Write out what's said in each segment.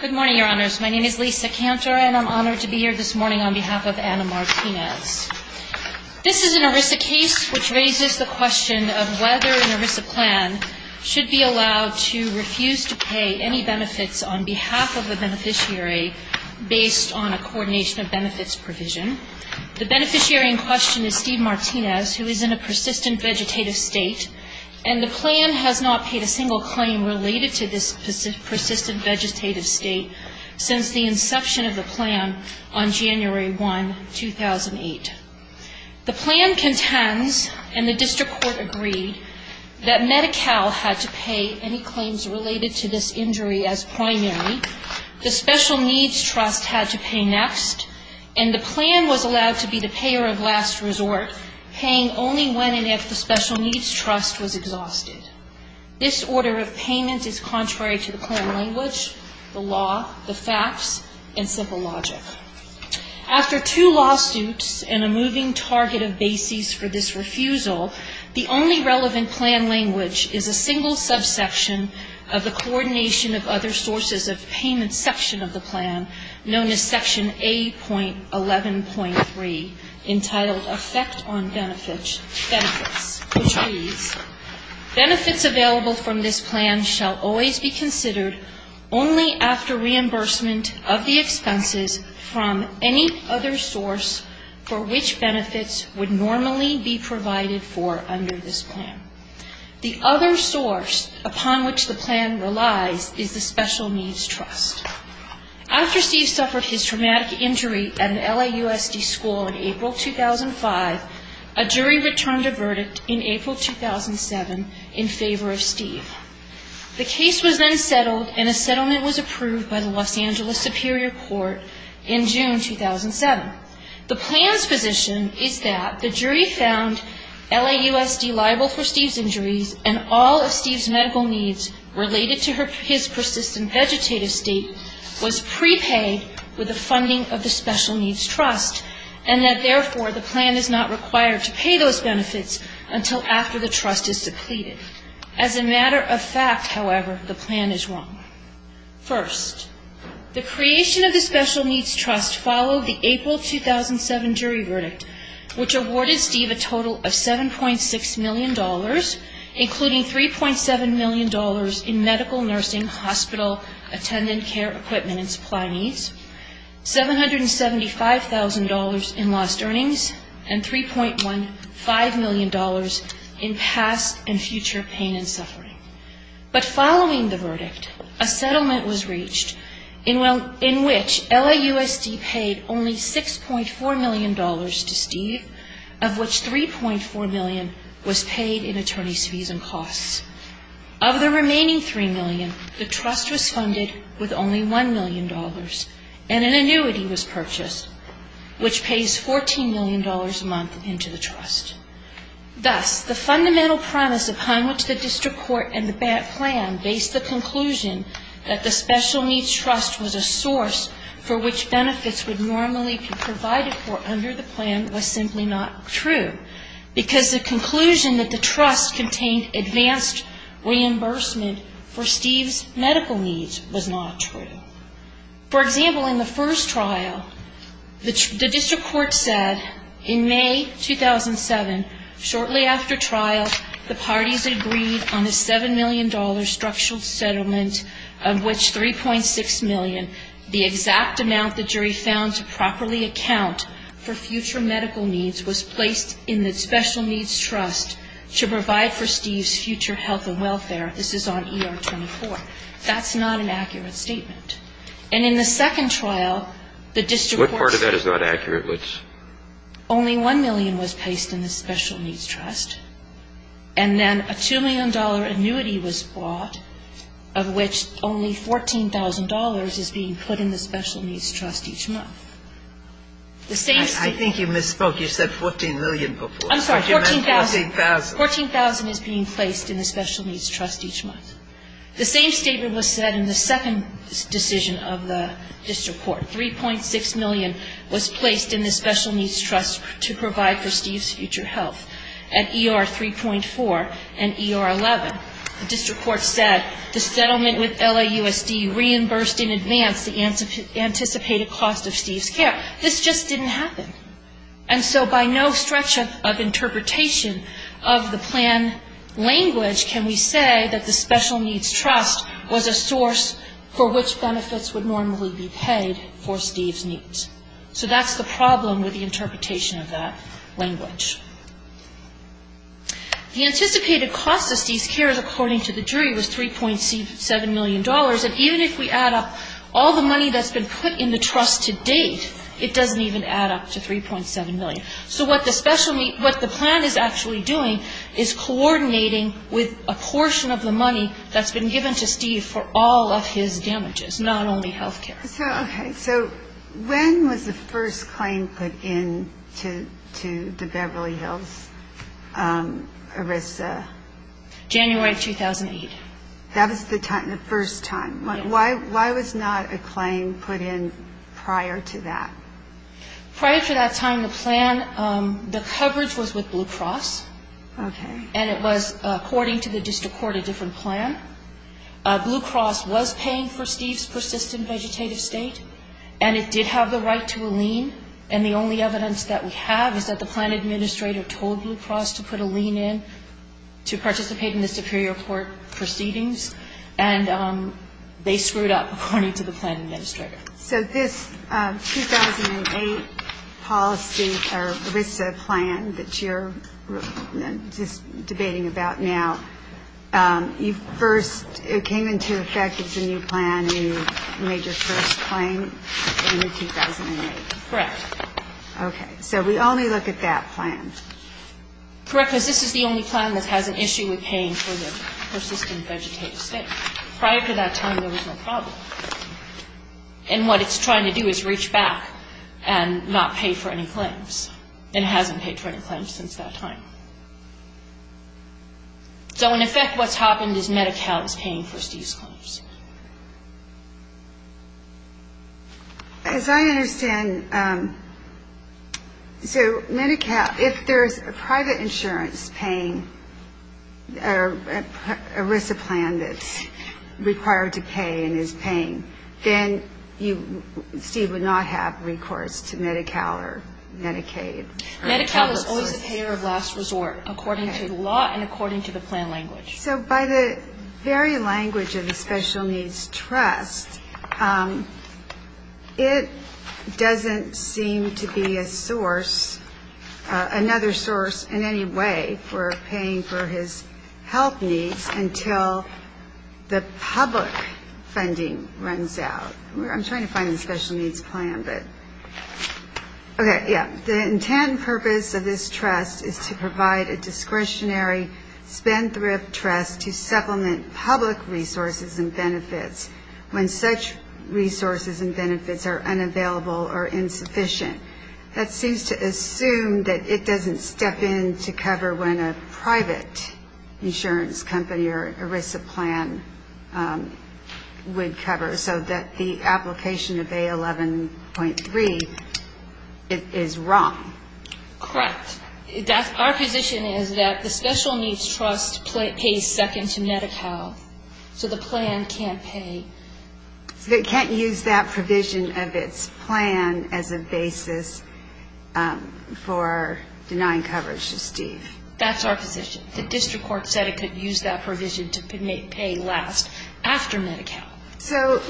Good morning, your honors. My name is Lisa Cantor and I'm honored to be here this morning on behalf of Anna Martinez. This is an ERISA case which raises the question of whether an ERISA plan should be allowed to refuse to pay any benefits on behalf of the beneficiary based on a coordination of benefits provision. The beneficiary in question is Steve Martinez who is in a persistent vegetative state and the plan has not paid a single claim related to this persistent vegetative state since the inception of the plan on January 1, 2008. The plan contends and the district court agreed that Medi-Cal had to pay any claims related to this injury as primary, the Special Needs Trust had to pay next, and the plan was allowed to be the payer of last resort, paying only when and if the Special Needs Trust was exhausted. This order of payment is contrary to the plan language, the law, the facts, and simple logic. After two lawsuits and a moving target of bases for this refusal, the only relevant plan language is a single subsection of the coordination of other sources of payment section of the plan known as Section A.11.3 entitled Effect on Benefits, which reads, Benefits available from this plan shall always be considered only after reimbursement of the expenses from any other source for which benefits would normally be provided for under this plan. The other source upon which the plan relies is the Special Needs Trust. After Steve suffered his traumatic injury at an LAUSD school in April 2005, a jury returned a verdict in April 2007 in favor of Steve. The case was then settled and a settlement was approved by the Los Angeles Superior Court in June 2007. The plan's position is that the jury found LAUSD liable for Steve's injuries and all of Steve's medical needs related to his persistent vegetative state was prepaid with the funding of the Special Needs Trust, and that, therefore, the plan is not required to pay those benefits until after the trust is depleted. As a matter of fact, however, the plan is wrong. First, the creation of the Special Needs Trust followed the April 2007 jury verdict, which awarded Steve a total of $7.6 million, including $3.7 million in medical, nursing, hospital, attendant care equipment and supply needs, $775,000 in lost earnings, and $3.15 million in past and future pain and suffering. But following the verdict, a settlement was reached in which LAUSD paid only $6.4 million to Steve, of which $3.4 million was paid in attorney's fees and costs. Of the remaining $3 million, the trust was funded with only $1 million, and an annuity was purchased, which pays $14 million a month into the trust. Thus, the fundamental premise upon which the district court and the plan based the conclusion that the Special Needs Trust was a source for which benefits would normally be provided for under the plan was simply not true, because the conclusion that the trust contained advanced reimbursement for Steve's medical needs was not true. For example, in the first trial, the district court said in May 2007, shortly after trial, the parties agreed on a $7 million structural settlement, of which $3.6 million, the exact amount the jury found to properly account for future medical needs, was placed in the Special Needs Trust to provide for Steve's future health and welfare. This is on ER 24. That's not an accurate statement. And in the second trial, the district court stated that only $1 million was placed in the Special Needs Trust, and then a $2 million annuity was bought, of which only $14,000 is being put in the Special Needs Trust each month. I think you misspoke. You said $14 million before. I'm sorry, $14,000. $14,000. $14,000 is being placed in the Special Needs Trust each month. The same statement was said in the second decision of the district court. $3.6 million was placed in the Special Needs Trust to provide for Steve's future health. At ER 3.4 and ER 11, the district court said the settlement with LAUSD reimbursed in advance the anticipated cost of Steve's care. This just didn't happen. And so by no stretch of interpretation of the plan language can we say that the Special Needs Trust was a source for which benefits would normally be paid for Steve's needs. So that's the problem with the interpretation of that language. The anticipated cost of Steve's care, according to the jury, was $3.7 million. And even if we add up all the money that's been put in the trust to date, it doesn't even add up to $3.7 million. So what the plan is actually doing is coordinating with a portion of the money that's been given to Steve for all of his damages, not only health care. So when was the first claim put in to the Beverly Hills ERISA? January of 2008. That was the first time. Why was not a claim put in prior to that? Prior to that time, the plan, the coverage was with Blue Cross. And it was, according to the district court, a different plan. Blue Cross was paying for Steve's persistent vegetative state. And it did have the right to a lien. And the only evidence that we have is that the plan administrator told Blue Cross to put a lien in to participate in the superior court proceedings. And they screwed up, according to the plan administrator. So this 2008 policy or ERISA plan that you're just debating about now, you first, it came into effect as a new plan and you made your first claim in 2008? Correct. Okay. So we only look at that plan. Correct, because this is the only plan that has an issue with paying for the persistent vegetative state. Prior to that time, there was no problem. And what it's trying to do is reach back and not pay for any claims. And it hasn't paid for any claims since that time. So in effect, what's happened is Medi-Cal is paying for Steve's claims. As I understand, so Medi-Cal, if there's a private insurance paying ERISA plan that's required to pay and is paying, then you, Steve, would not have recourse to Medi-Cal or Medicaid. Medi-Cal is always the payer of last resort, according to the law and according to the plan language. So by the very language of the special needs trust, it doesn't seem to be a source, another source in any way for paying for his health needs until the public funding runs out. I'm trying to find the special needs plan, but okay, yeah. The intent and purpose of this trust is to provide a discretionary spendthrift trust to supplement public resources and benefits when such resources and benefits are unavailable or insufficient. That seems to assume that it doesn't step in to cover when a private insurance company or ERISA plan would cover, so that the application of A11.3 is wrong. Correct. Our position is that the special needs trust pays second to Medi-Cal, so the plan can't pay. It can't use that provision of its plan as a basis for denying coverage to Steve. That's our position. The district court said it could use that provision to make pay last after Medi-Cal. So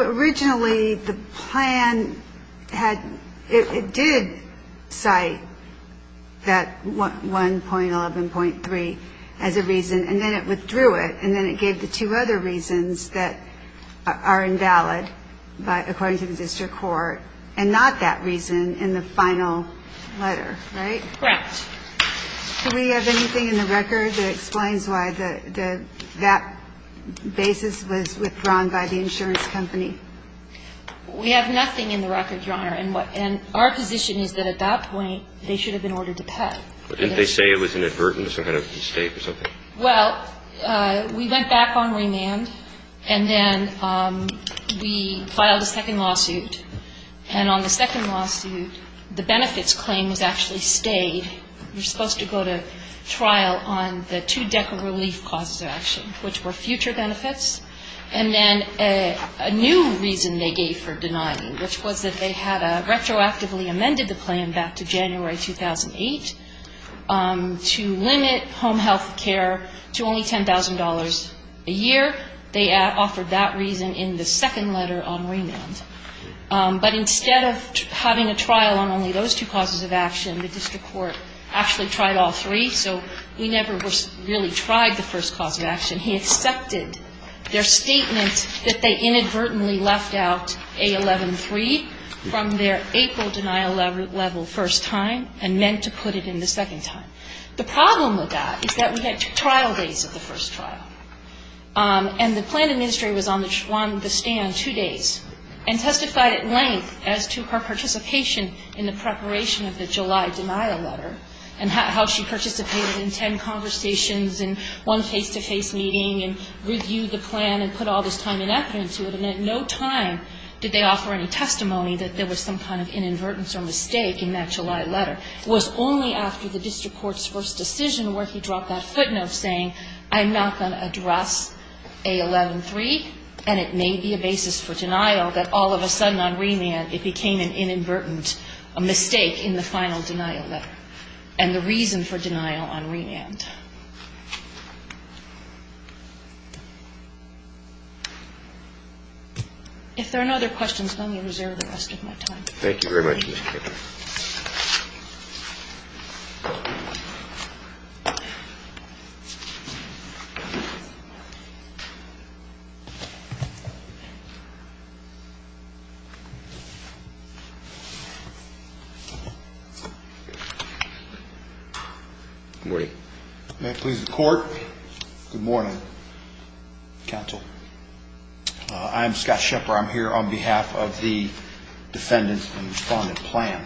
originally the plan did cite that 1.11.3 as a reason, and then it withdrew it, and then it gave the two other reasons that are invalid according to the district court, and not that reason in the final letter, right? Correct. Do we have anything in the record that explains why that basis was withdrawn by the insurance company? We have nothing in the record, Your Honor, and our position is that at that point they should have been ordered to pay. Didn't they say it was an advertence or kind of a mistake or something? Well, we went back on remand, and then we filed a second lawsuit, and on the second lawsuit the benefits claim was actually stayed. You're supposed to go to trial on the two DECA relief causes of action, which were future benefits, and then a new reason they gave for denying, which was that they had retroactively amended the plan back to January 2008 to limit home health care to only $10,000 a year. They offered that reason in the second letter on remand. But instead of having a trial on only those two causes of action, the district court actually tried all three, so we never really tried the first cause of action. He accepted their statement that they inadvertently left out A11-3 from their April denial level first time and meant to put it in the second time. The problem with that is that we had trial days of the first trial, and the plan administrator was on the stand two days and testified at length as to her participation in the preparation of the July denial letter and how she participated in ten conversations and one face-to-face meeting and reviewed the plan and put all this time and effort into it, and at no time did they offer any testimony that there was some kind of inadvertence or mistake in that July letter. It was only after the district court's first decision where he dropped that footnote saying, I'm not going to address A11-3, and it may be a basis for denial that all of a sudden on remand it became an inadvertent mistake in the final denial letter and the reason for denial on remand. If there are no other questions, let me reserve the rest of my time. Thank you very much, Mr. Chairman. Good morning. May it please the court. Good morning, counsel. I'm Scott Shepard. I'm here on behalf of the defendants and respondent plan.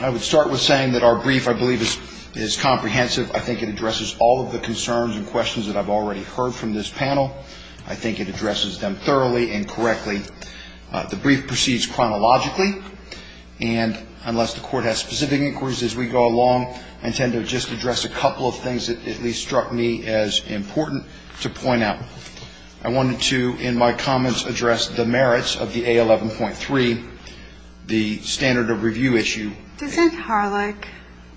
I would start with saying that our brief, I believe, is comprehensive. I think it addresses all of the concerns and questions that I've already heard from this panel. I think it addresses them thoroughly and correctly. The brief proceeds chronologically, and unless the court has specific inquiries as we go along, I intend to just address a couple of things that at least struck me as important to point out. I wanted to, in my comments, address the merits of the A11.3, the standard of review issue. Doesn't Harlech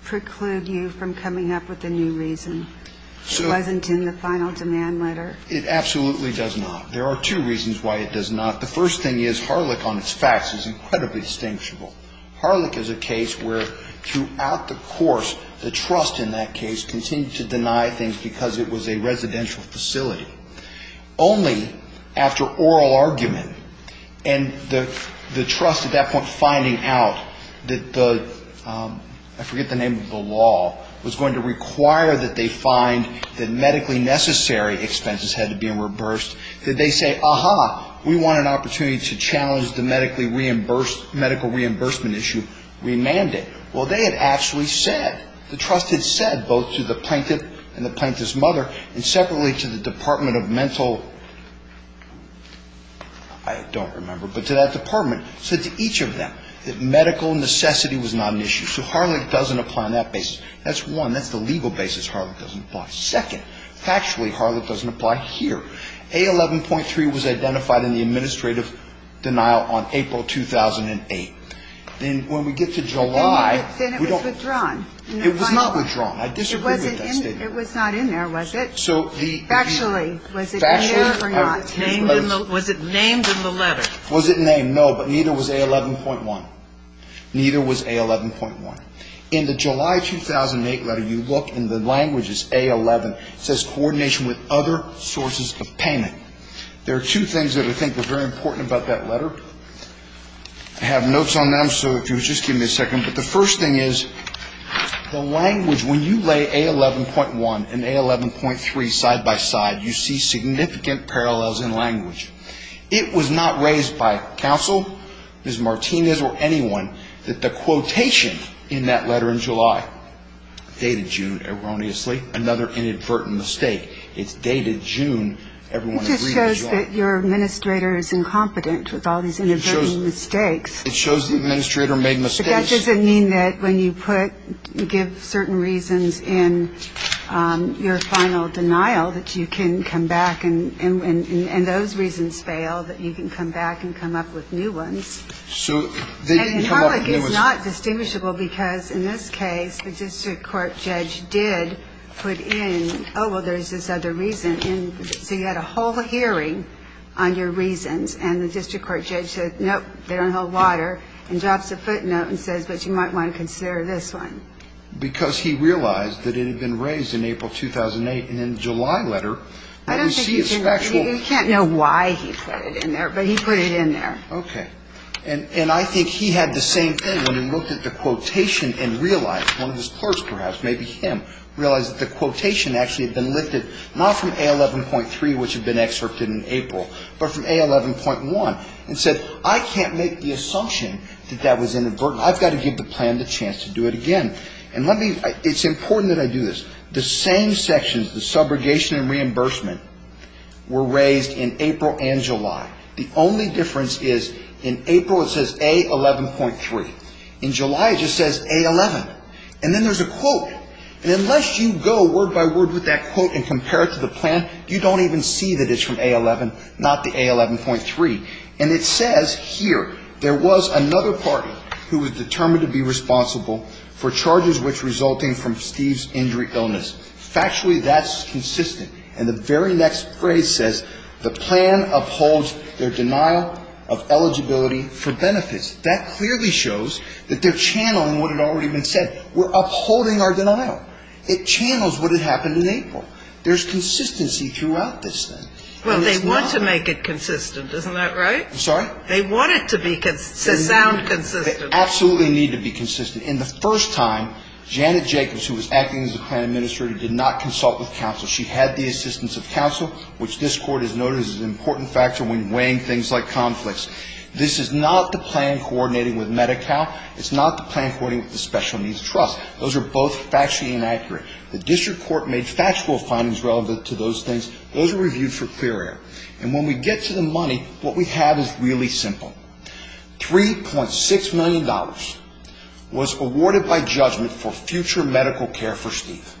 preclude you from coming up with a new reason? It wasn't in the final demand letter. It absolutely does not. There are two reasons why it does not. The first thing is Harlech on its facts is incredibly distinguishable. Harlech is a case where throughout the course, the trust in that case continued to deny things because it was a residential facility. Only after oral argument and the trust at that point finding out that the, I forget the name of the law, was going to require that they find that medically necessary expenses had to be reversed, did they say, Aha, we want an opportunity to challenge the medical reimbursement issue, we manned it. Well, they had actually said, the trust had said, both to the plaintiff and the plaintiff's mother, and separately to the Department of Mental, I don't remember, but to that department, said to each of them that medical necessity was not an issue. So Harlech doesn't apply on that basis. That's one. That's the legal basis Harlech doesn't apply. Second, factually, Harlech doesn't apply here. A11.3 was identified in the administrative denial on April 2008. Then when we get to July. Then it was withdrawn. It was not withdrawn. I disagree with that statement. It was not in there, was it? Factually, was it in there or not? Was it named in the letter? Was it named? No, but neither was A11.1. Neither was A11.1. In the July 2008 letter, you look and the language is A11. It says coordination with other sources of payment. There are two things that I think are very important about that letter. I have notes on them, so if you'll just give me a second. But the first thing is the language, when you lay A11.1 and A11.3 side by side, you see significant parallels in language. It was not raised by counsel, Ms. Martinez or anyone, that the quotation in that letter in July dated June erroneously. Another inadvertent mistake. It's dated June. It just shows that your administrator is incompetent with all these inadvertent mistakes. It shows the administrator made mistakes. But that doesn't mean that when you give certain reasons in your final denial, that you can come back and those reasons fail, that you can come back and come up with new ones. And in public, it's not distinguishable because in this case, the district court judge did put in, oh, well, there's this other reason, and so you had a whole hearing on your reasons, and the district court judge said, nope, they don't hold water, and drops a footnote and says, but you might want to consider this one. Because he realized that it had been raised in April 2008, and in the July letter, you see it's an actual ‑‑ I don't think he did. I can't know why he put it in there, but he put it in there. Okay. And I think he had the same thing when he looked at the quotation and realized, one of his clerks perhaps, maybe him, realized that the quotation actually had been lifted, not from A11.3, which had been excerpted in April, but from A11.1, and said, I can't make the assumption that that was inadvertent. I've got to give the plan the chance to do it again. And let me ‑‑ it's important that I do this. The same sections, the subrogation and reimbursement, were raised in April and July. The only difference is in April it says A11.3. In July it just says A11. And then there's a quote. And unless you go word by word with that quote and compare it to the plan, you don't even see that it's from A11, not the A11.3. And it says here, there was another party who was determined to be responsible for charges which resulting from Steve's injury illness. Factually, that's consistent. And the very next phrase says, the plan upholds their denial of eligibility for benefits. That clearly shows that they're channeling what had already been said. We're upholding our denial. It channels what had happened in April. There's consistency throughout this thing. Well, they want to make it consistent. Isn't that right? I'm sorry? They want it to be ‑‑ to sound consistent. They absolutely need to be consistent. In the first time, Janet Jacobs, who was acting as the plan administrator, did not consult with counsel. She had the assistance of counsel, which this Court has noted is an important factor when weighing things like conflicts. This is not the plan coordinating with Medi-Cal. It's not the plan coordinating with the Special Needs Trust. Those are both factually inaccurate. The district court made factual findings relevant to those things. Those are reviewed for clear air. And when we get to the money, what we have is really simple. $3.6 million was awarded by judgment for future medical care for Steve.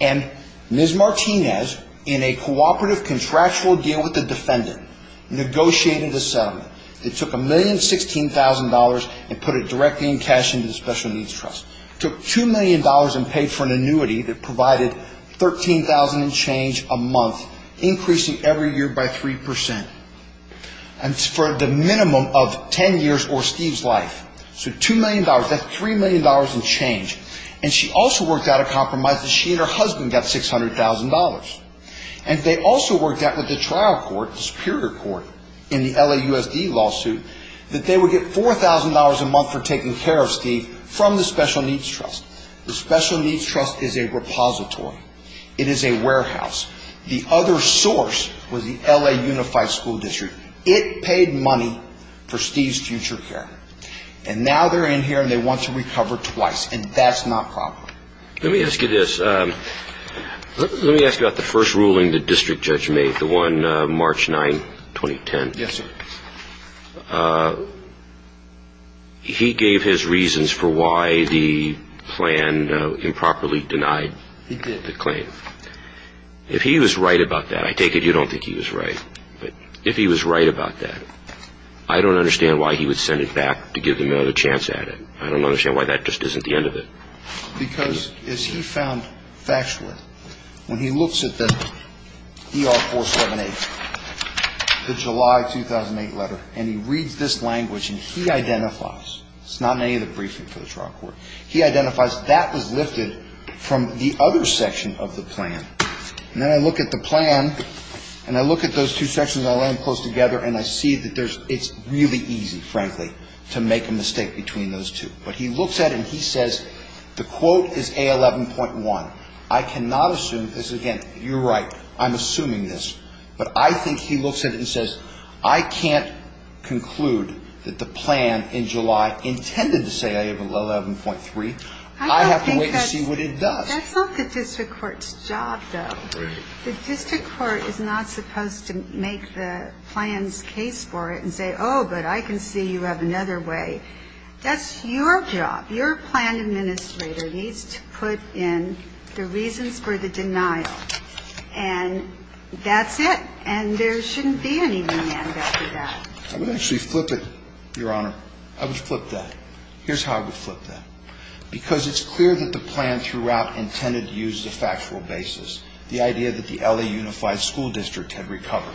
And Ms. Martinez, in a cooperative contractual deal with the defendant, negotiated a settlement that took $1,016,000 and put it directly in cash into the Special Needs Trust. Took $2 million and paid for an annuity that provided $13,000 in change a month, increasing every year by 3% for the minimum of 10 years or Steve's life. So $2 million. That's $3 million in change. And she also worked out a compromise that she and her husband got $600,000. And they also worked out that the trial court, the Superior Court, in the LAUSD lawsuit, that they would get $4,000 a month for taking care of Steve from the Special Needs Trust. The Special Needs Trust is a repository. It is a warehouse. The other source was the LA Unified School District. It paid money for Steve's future care. And now they're in here and they want to recover twice. And that's not proper. Let me ask you this. Let me ask you about the first ruling the district judge made, the one March 9, 2010. Yes, sir. He gave his reasons for why the plan improperly denied the claim. He did. If he was right about that, I take it you don't think he was right, but if he was right about that, I don't understand why he would send it back to give them another chance at it. I don't understand why that just isn't the end of it. Because as he found factually, when he looks at the DR-478, the July 2008 letter, and he reads this language and he identifies, it's not in any of the briefing for the trial court, he identifies that was lifted from the other section of the plan. And then I look at the plan and I look at those two sections and I lay them close together and I see that it's really easy, frankly, to make a mistake between those two. But he looks at it and he says the quote is A11.1. I cannot assume, because again, you're right, I'm assuming this, but I think he looks at it and says I can't conclude that the plan in July intended to say A11.3. I have to wait to see what it does. That's not the district court's job, though. The district court is not supposed to make the plan's case for it and say, oh, but I can see you have another way. That's your job. Your plan administrator needs to put in the reasons for the denial. And that's it. And there shouldn't be any demand after that. I would actually flip it, Your Honor. I would flip that. Here's how I would flip that. Because it's clear that the plan throughout intended to use the factual basis, the idea that the LA Unified School District had recovered.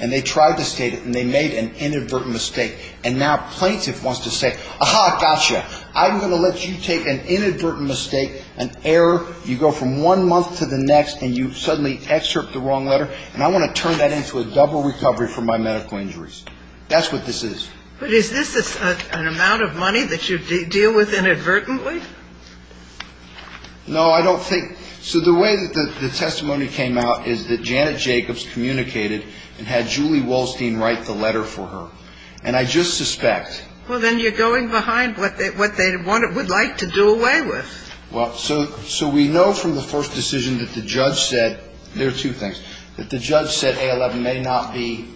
And they tried to state it and they made an inadvertent mistake. And now plaintiff wants to say, aha, gotcha, I'm going to let you take an inadvertent mistake, an error. You go from one month to the next and you suddenly excerpt the wrong letter. And I want to turn that into a double recovery for my medical injuries. That's what this is. But is this an amount of money that you deal with inadvertently? No, I don't think. So the way that the testimony came out is that Janet Jacobs communicated and had Julie Wolstein write the letter for her. And I just suspect. Well, then you're going behind what they would like to do away with. Well, so we know from the first decision that the judge said, there are two things, that the judge said A11 may not be,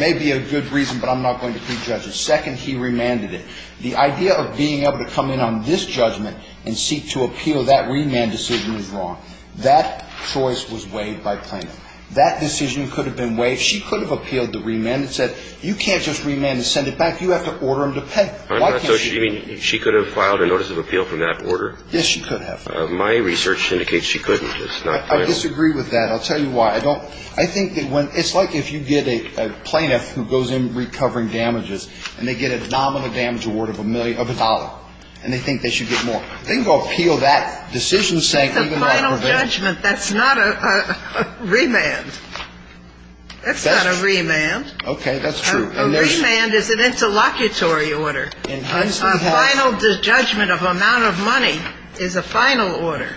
may be a good reason, but I'm not going to plead justice. Second, he remanded it. The idea of being able to come in on this judgment and seek to appeal that remand decision is wrong. That choice was waived by plaintiff. That decision could have been waived. She could have appealed the remand and said, you can't just remand and send it back. You have to order him to pay. So you mean she could have filed a notice of appeal from that order? Yes, she could have. My research indicates she couldn't. I disagree with that. I'll tell you why. I don't, I think that when, it's like if you get a plaintiff who goes in recovering damages and they get a nominal damage award of a million, of a dollar, and they think they should get more. They can go appeal that decision saying. It's a final judgment. That's not a remand. That's not a remand. Okay. That's true. A remand is an interlocutory order. A final judgment of amount of money is a final order.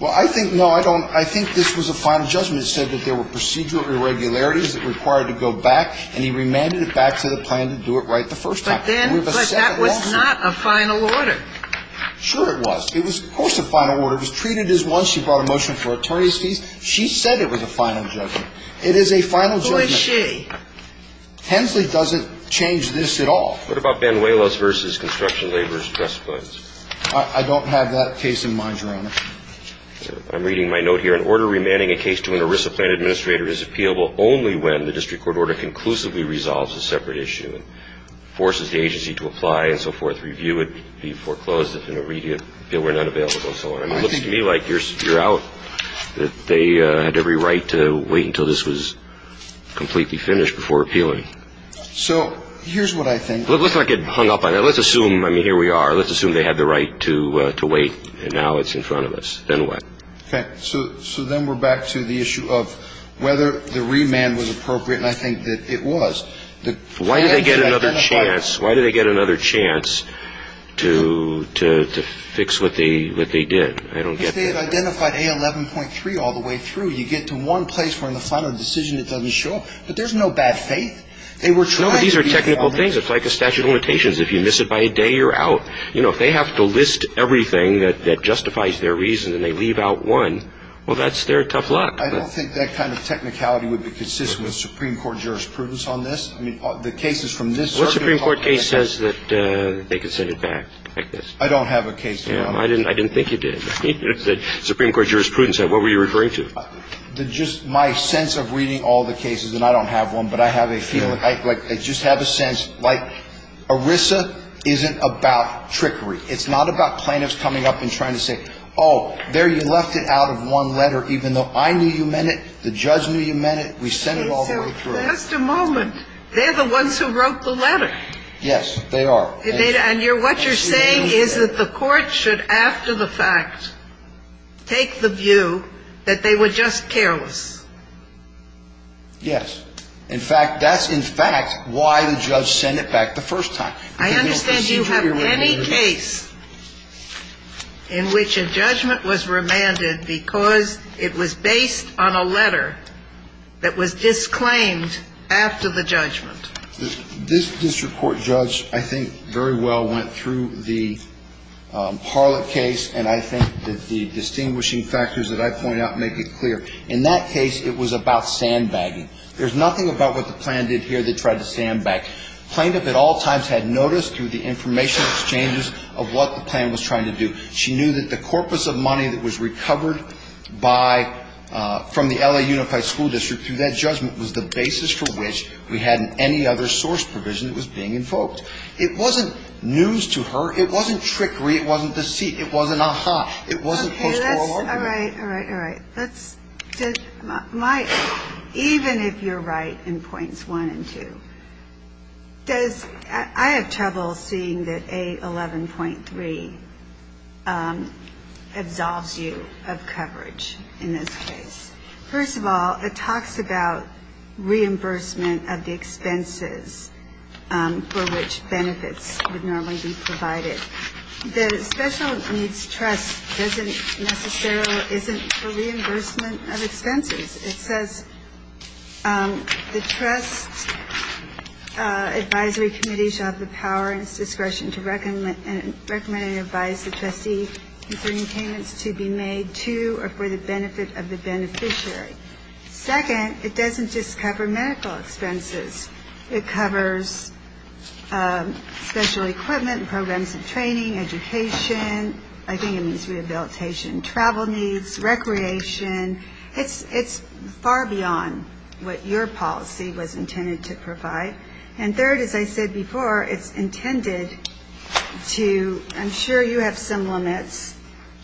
Well, I think, no, I don't, I think this was a final judgment that said that there were procedural irregularities that required to go back, and he remanded it back to the plaintiff to do it right the first time. But then, but that was not a final order. Sure it was. It was, of course, a final order. It was treated as one. She brought a motion for attorney's fees. She said it was a final judgment. It is a final judgment. Who is she? Hensley doesn't change this at all. What about Banuelos versus construction labor's trust funds? I don't have that case in mind, Your Honor. I'm reading my note here. An order remanding a case to an ERISA plan administrator is appealable only when the district court order conclusively resolves a separate issue and forces the agency to apply and so forth. Review would be foreclosed if an immediate bill were not available. So it looks to me like you're out, that they had every right to wait until this was completely finished before appealing. So here's what I think. Let's not get hung up on that. Let's assume, I mean, here we are. Let's assume they had the right to wait, and now it's in front of us. Then what? Okay. So then we're back to the issue of whether the remand was appropriate, and I think that it was. Why did they get another chance? Why did they get another chance to fix what they did? I don't get that. Because they had identified A11.3 all the way through. You get to one place where in the final decision it doesn't show up. But there's no bad faith. No, but these are technical things. It's like a statute of limitations. If you miss it by a day, you're out. You know, if they have to list everything that justifies their reason and they leave out one, well, that's their tough luck. I don't think that kind of technicality would be consistent with Supreme Court jurisprudence on this. I mean, the cases from this circuit are complicated. What Supreme Court case says that they could send it back like this? I don't have a case. I didn't think you did. The Supreme Court jurisprudence said, what were you referring to? Just my sense of reading all the cases, and I don't have one, but I have a feeling. I just have a sense. Like, ERISA isn't about trickery. It's not about plaintiffs coming up and trying to say, oh, there you left it out of one letter even though I knew you meant it, the judge knew you meant it, we sent it all the way through. Just a moment. They're the ones who wrote the letter. Yes, they are. And what you're saying is that the court should, after the fact, take the view that they were just careless. Yes. In fact, that's, in fact, why the judge sent it back the first time. I understand you have any case in which a judgment was remanded because it was based on a letter that was disclaimed after the judgment. This district court judge, I think, very well went through the Harlett case, and I think that the distinguishing factors that I point out make it clear. In that case, it was about sandbagging. There's nothing about what the plan did here that tried to sandbag. Plaintiff at all times had noticed through the information exchanges of what the plan was trying to do. She knew that the corpus of money that was recovered by, from the L.A. Unified School District, through that judgment, was the basis for which we hadn't any other source provision that was being invoked. It wasn't news to her. It wasn't trickery. It wasn't deceit. It wasn't ah-ha. It wasn't post-moral argument. All right, all right, all right. Even if you're right in points one and two, I have trouble seeing that A11.3 absolves you of coverage in this case. First of all, it talks about reimbursement of the expenses for which benefits would normally be provided. The special needs trust doesn't necessarily, isn't for reimbursement of expenses. It says the trust advisory committee shall have the power and discretion to recommend and advise the trustee concerning payments to be made to or for the benefit of the beneficiary. Second, it doesn't just cover medical expenses. It covers special equipment, programs of training, education. I think it means rehabilitation and travel needs, recreation. It's far beyond what your policy was intended to provide. And third, as I said before, it's intended to, I'm sure you have some limits,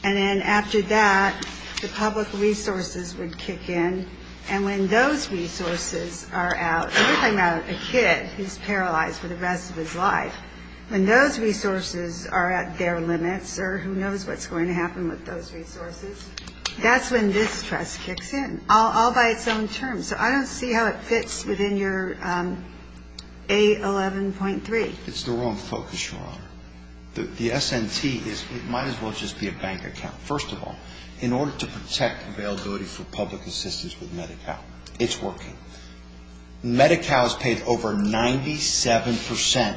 and then after that the public resources would kick in. And when those resources are out, we're talking about a kid who's paralyzed for the rest of his life. When those resources are at their limits, or who knows what's going to happen with those resources, that's when this trust kicks in, all by its own terms. So I don't see how it fits within your A11.3. It's the wrong focus, Your Honor. The S&T is, it might as well just be a bank account. First of all, in order to protect availability for public assistance with Medi-Cal, it's working. Medi-Cal has paid over 97%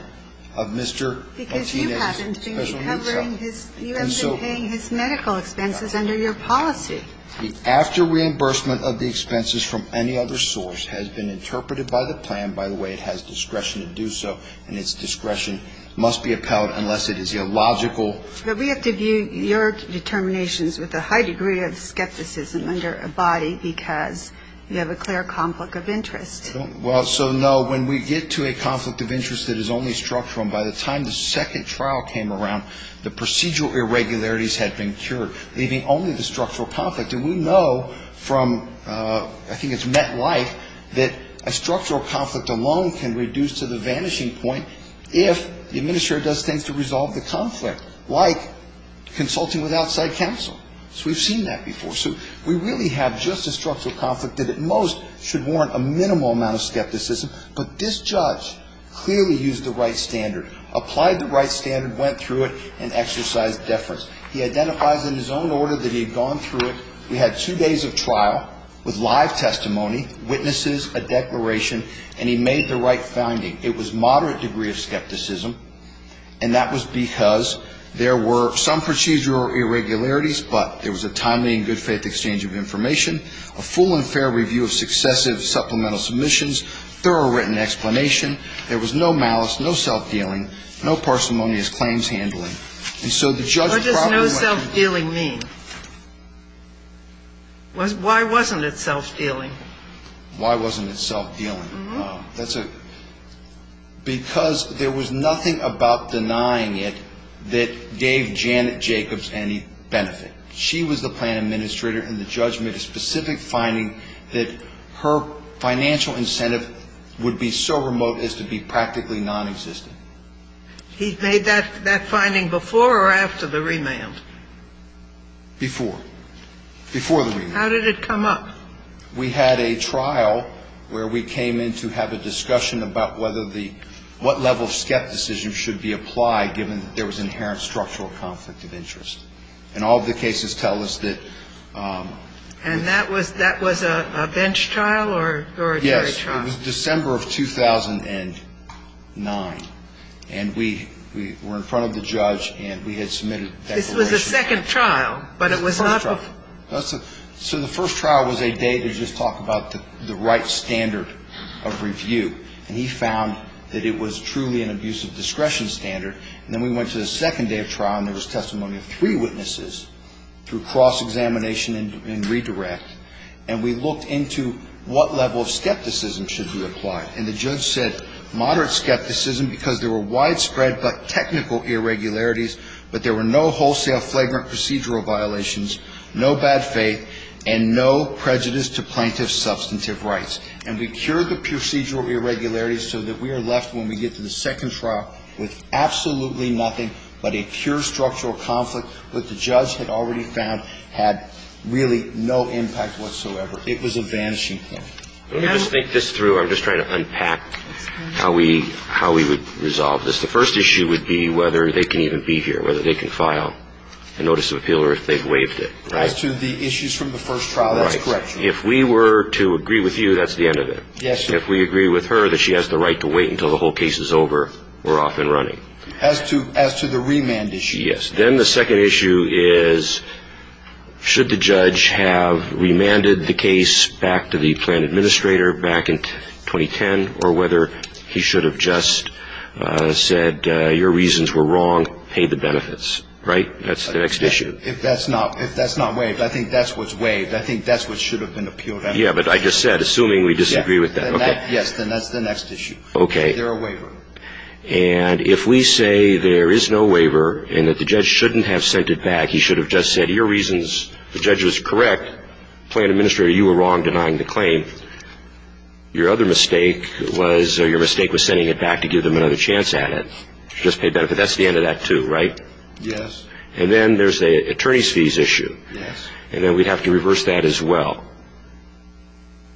of Mr. Martinez's special needs. Because you haven't been covering his, you haven't been paying his medical expenses under your policy. The after reimbursement of the expenses from any other source has been interpreted by the plan, by the way it has discretion to do so, and its discretion must be upheld unless it is illogical. But we have to view your determinations with a high degree of skepticism under a body because you have a clear conflict of interest. Well, so no, when we get to a conflict of interest that is only structural, and by the time the second trial came around, the procedural irregularities had been cured, leaving only the structural conflict. And we know from, I think it's MetLife, that a structural conflict alone can reduce to the vanishing point if the administrator does things to resolve the conflict, like consulting with outside counsel. So we've seen that before. So we really have just a structural conflict that at most should warrant a minimal amount of skepticism, but this judge clearly used the right standard, applied the right standard, went through it, and exercised deference. He identifies in his own order that he had gone through it. He had two days of trial with live testimony, witnesses, a declaration, and he made the right finding. It was moderate degree of skepticism, and that was because there were some procedural irregularities, but there was a timely and good faith exchange of information, a full and fair review of successive supplemental submissions, thorough written explanation. There was no malice, no self-dealing, no parsimonious claims handling. What does no self-dealing mean? Why wasn't it self-dealing? Why wasn't it self-dealing? Because there was nothing about denying it that gave Janet Jacobs any benefit. She was the plan administrator, and the judge made a specific finding that her financial incentive would be so remote as to be practically nonexistent. He made that finding before or after the remand? Before. Before the remand. How did it come up? We had a trial where we came in to have a discussion about whether the ‑‑ what level of skepticism should be applied given that there was inherent structural conflict of interest. And all of the cases tell us that ‑‑ And that was a bench trial or a jury trial? Yes. It was December of 2009. And we were in front of the judge, and we had submitted declarations. This was the second trial, but it was not ‑‑ It was the first trial. So the first trial was a day to just talk about the right standard of review. And he found that it was truly an abuse of discretion standard. And then we went to the second day of trial, and there was testimony of three witnesses through cross‑examination and redirect. And we looked into what level of skepticism should be applied. And the judge said moderate skepticism because there were widespread but technical irregularities, but there were no wholesale flagrant procedural violations, no bad faith, and no prejudice to plaintiff's substantive rights. And we cured the procedural irregularities so that we are left when we get to the second trial with absolutely nothing but a pure structural conflict that the judge had already found had really no impact whatsoever. It was a vanishing point. Let me just think this through. I'm just trying to unpack how we would resolve this. The first issue would be whether they can even be here, whether they can file a notice of appeal or if they've waived it, right? As to the issues from the first trial, that's correct. Right. If we were to agree with you, that's the end of it. Yes, sir. If we agree with her that she has the right to wait until the whole case is over, we're off and running. As to the remand issue. Yes. Then the second issue is should the judge have remanded the case back to the plan administrator back in 2010 or whether he should have just said your reasons were wrong, paid the benefits. Right? That's the next issue. If that's not waived, I think that's what's waived. I think that's what should have been appealed. Yeah, but I just said, assuming we disagree with that. Yes, then that's the next issue. Okay. Is there a waiver? And if we say there is no waiver and that the judge shouldn't have sent it back, he should have just said your reasons, the judge was correct, plan administrator, you were wrong denying the claim, your other mistake was, or your mistake was sending it back to give them another chance at it. Just pay benefit. That's the end of that, too, right? Yes. And then there's the attorney's fees issue. Yes. And then we'd have to reverse that as well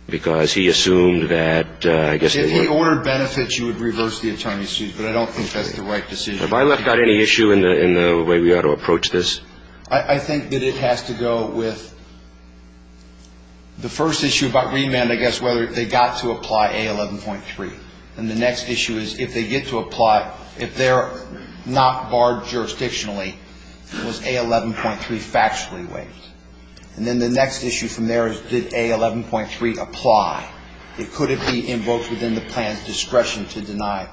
because he assumed that, I guess, if he ordered benefits, you would reverse the attorney's fees, but I don't think that's the right decision. Have I left out any issue in the way we ought to approach this? I think that it has to go with the first issue about remand, I guess, whether they got to apply A11.3. And the next issue is if they get to apply, if they're not barred jurisdictionally, was A11.3 factually waived? And then the next issue from there is did A11.3 apply? Could it be invoked within the plan's discretion to deny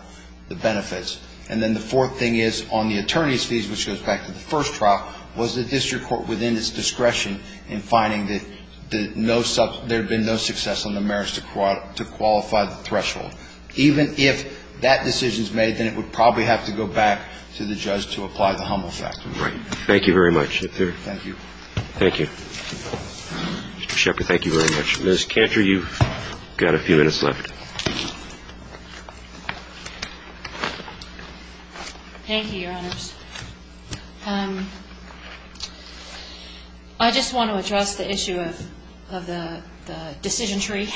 the benefits? And then the fourth thing is on the attorney's fees, which goes back to the first trial, was the district court within its discretion in finding that there had been no success on the merits to qualify the threshold? Even if that decision is made, then it would probably have to go back to the judge to apply the Hummel fact. Right. Thank you very much. Thank you. Thank you. Mr. Shepherd, thank you very much. Ms. Cantor, you've got a few minutes left. Thank you, Your Honors. I just want to address the issue of the decision tree.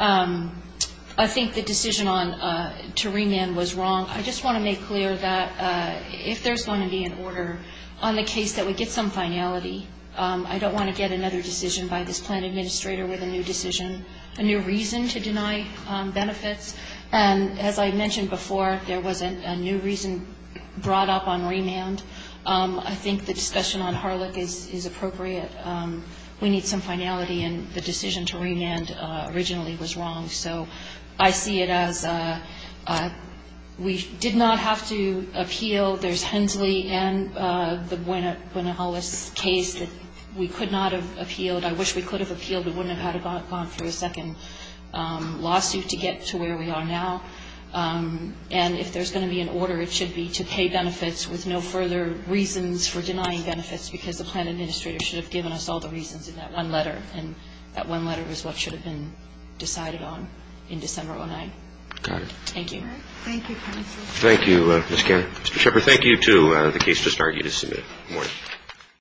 I think the decision to remand was wrong. I just want to make clear that if there's going to be an order on the case that we get some finality, I don't want to get another decision by this plan administrator with a new decision, a new reason to deny benefits. And as I mentioned before, there was a new reason brought up on remand. I think the discussion on Harlech is appropriate. We need some finality, and the decision to remand originally was wrong. I think our plan administrator should have given us all the reasons in that one letter. And I think that one letter is what should have been decided on in December of 2009. Thank you. Thank you, counsel. Thank you, Ms. Cantor. Thank you. Thank you. Thank you. Thank you. Thank you. Thank you. Thank you to the case just argued as submitted. Good morning.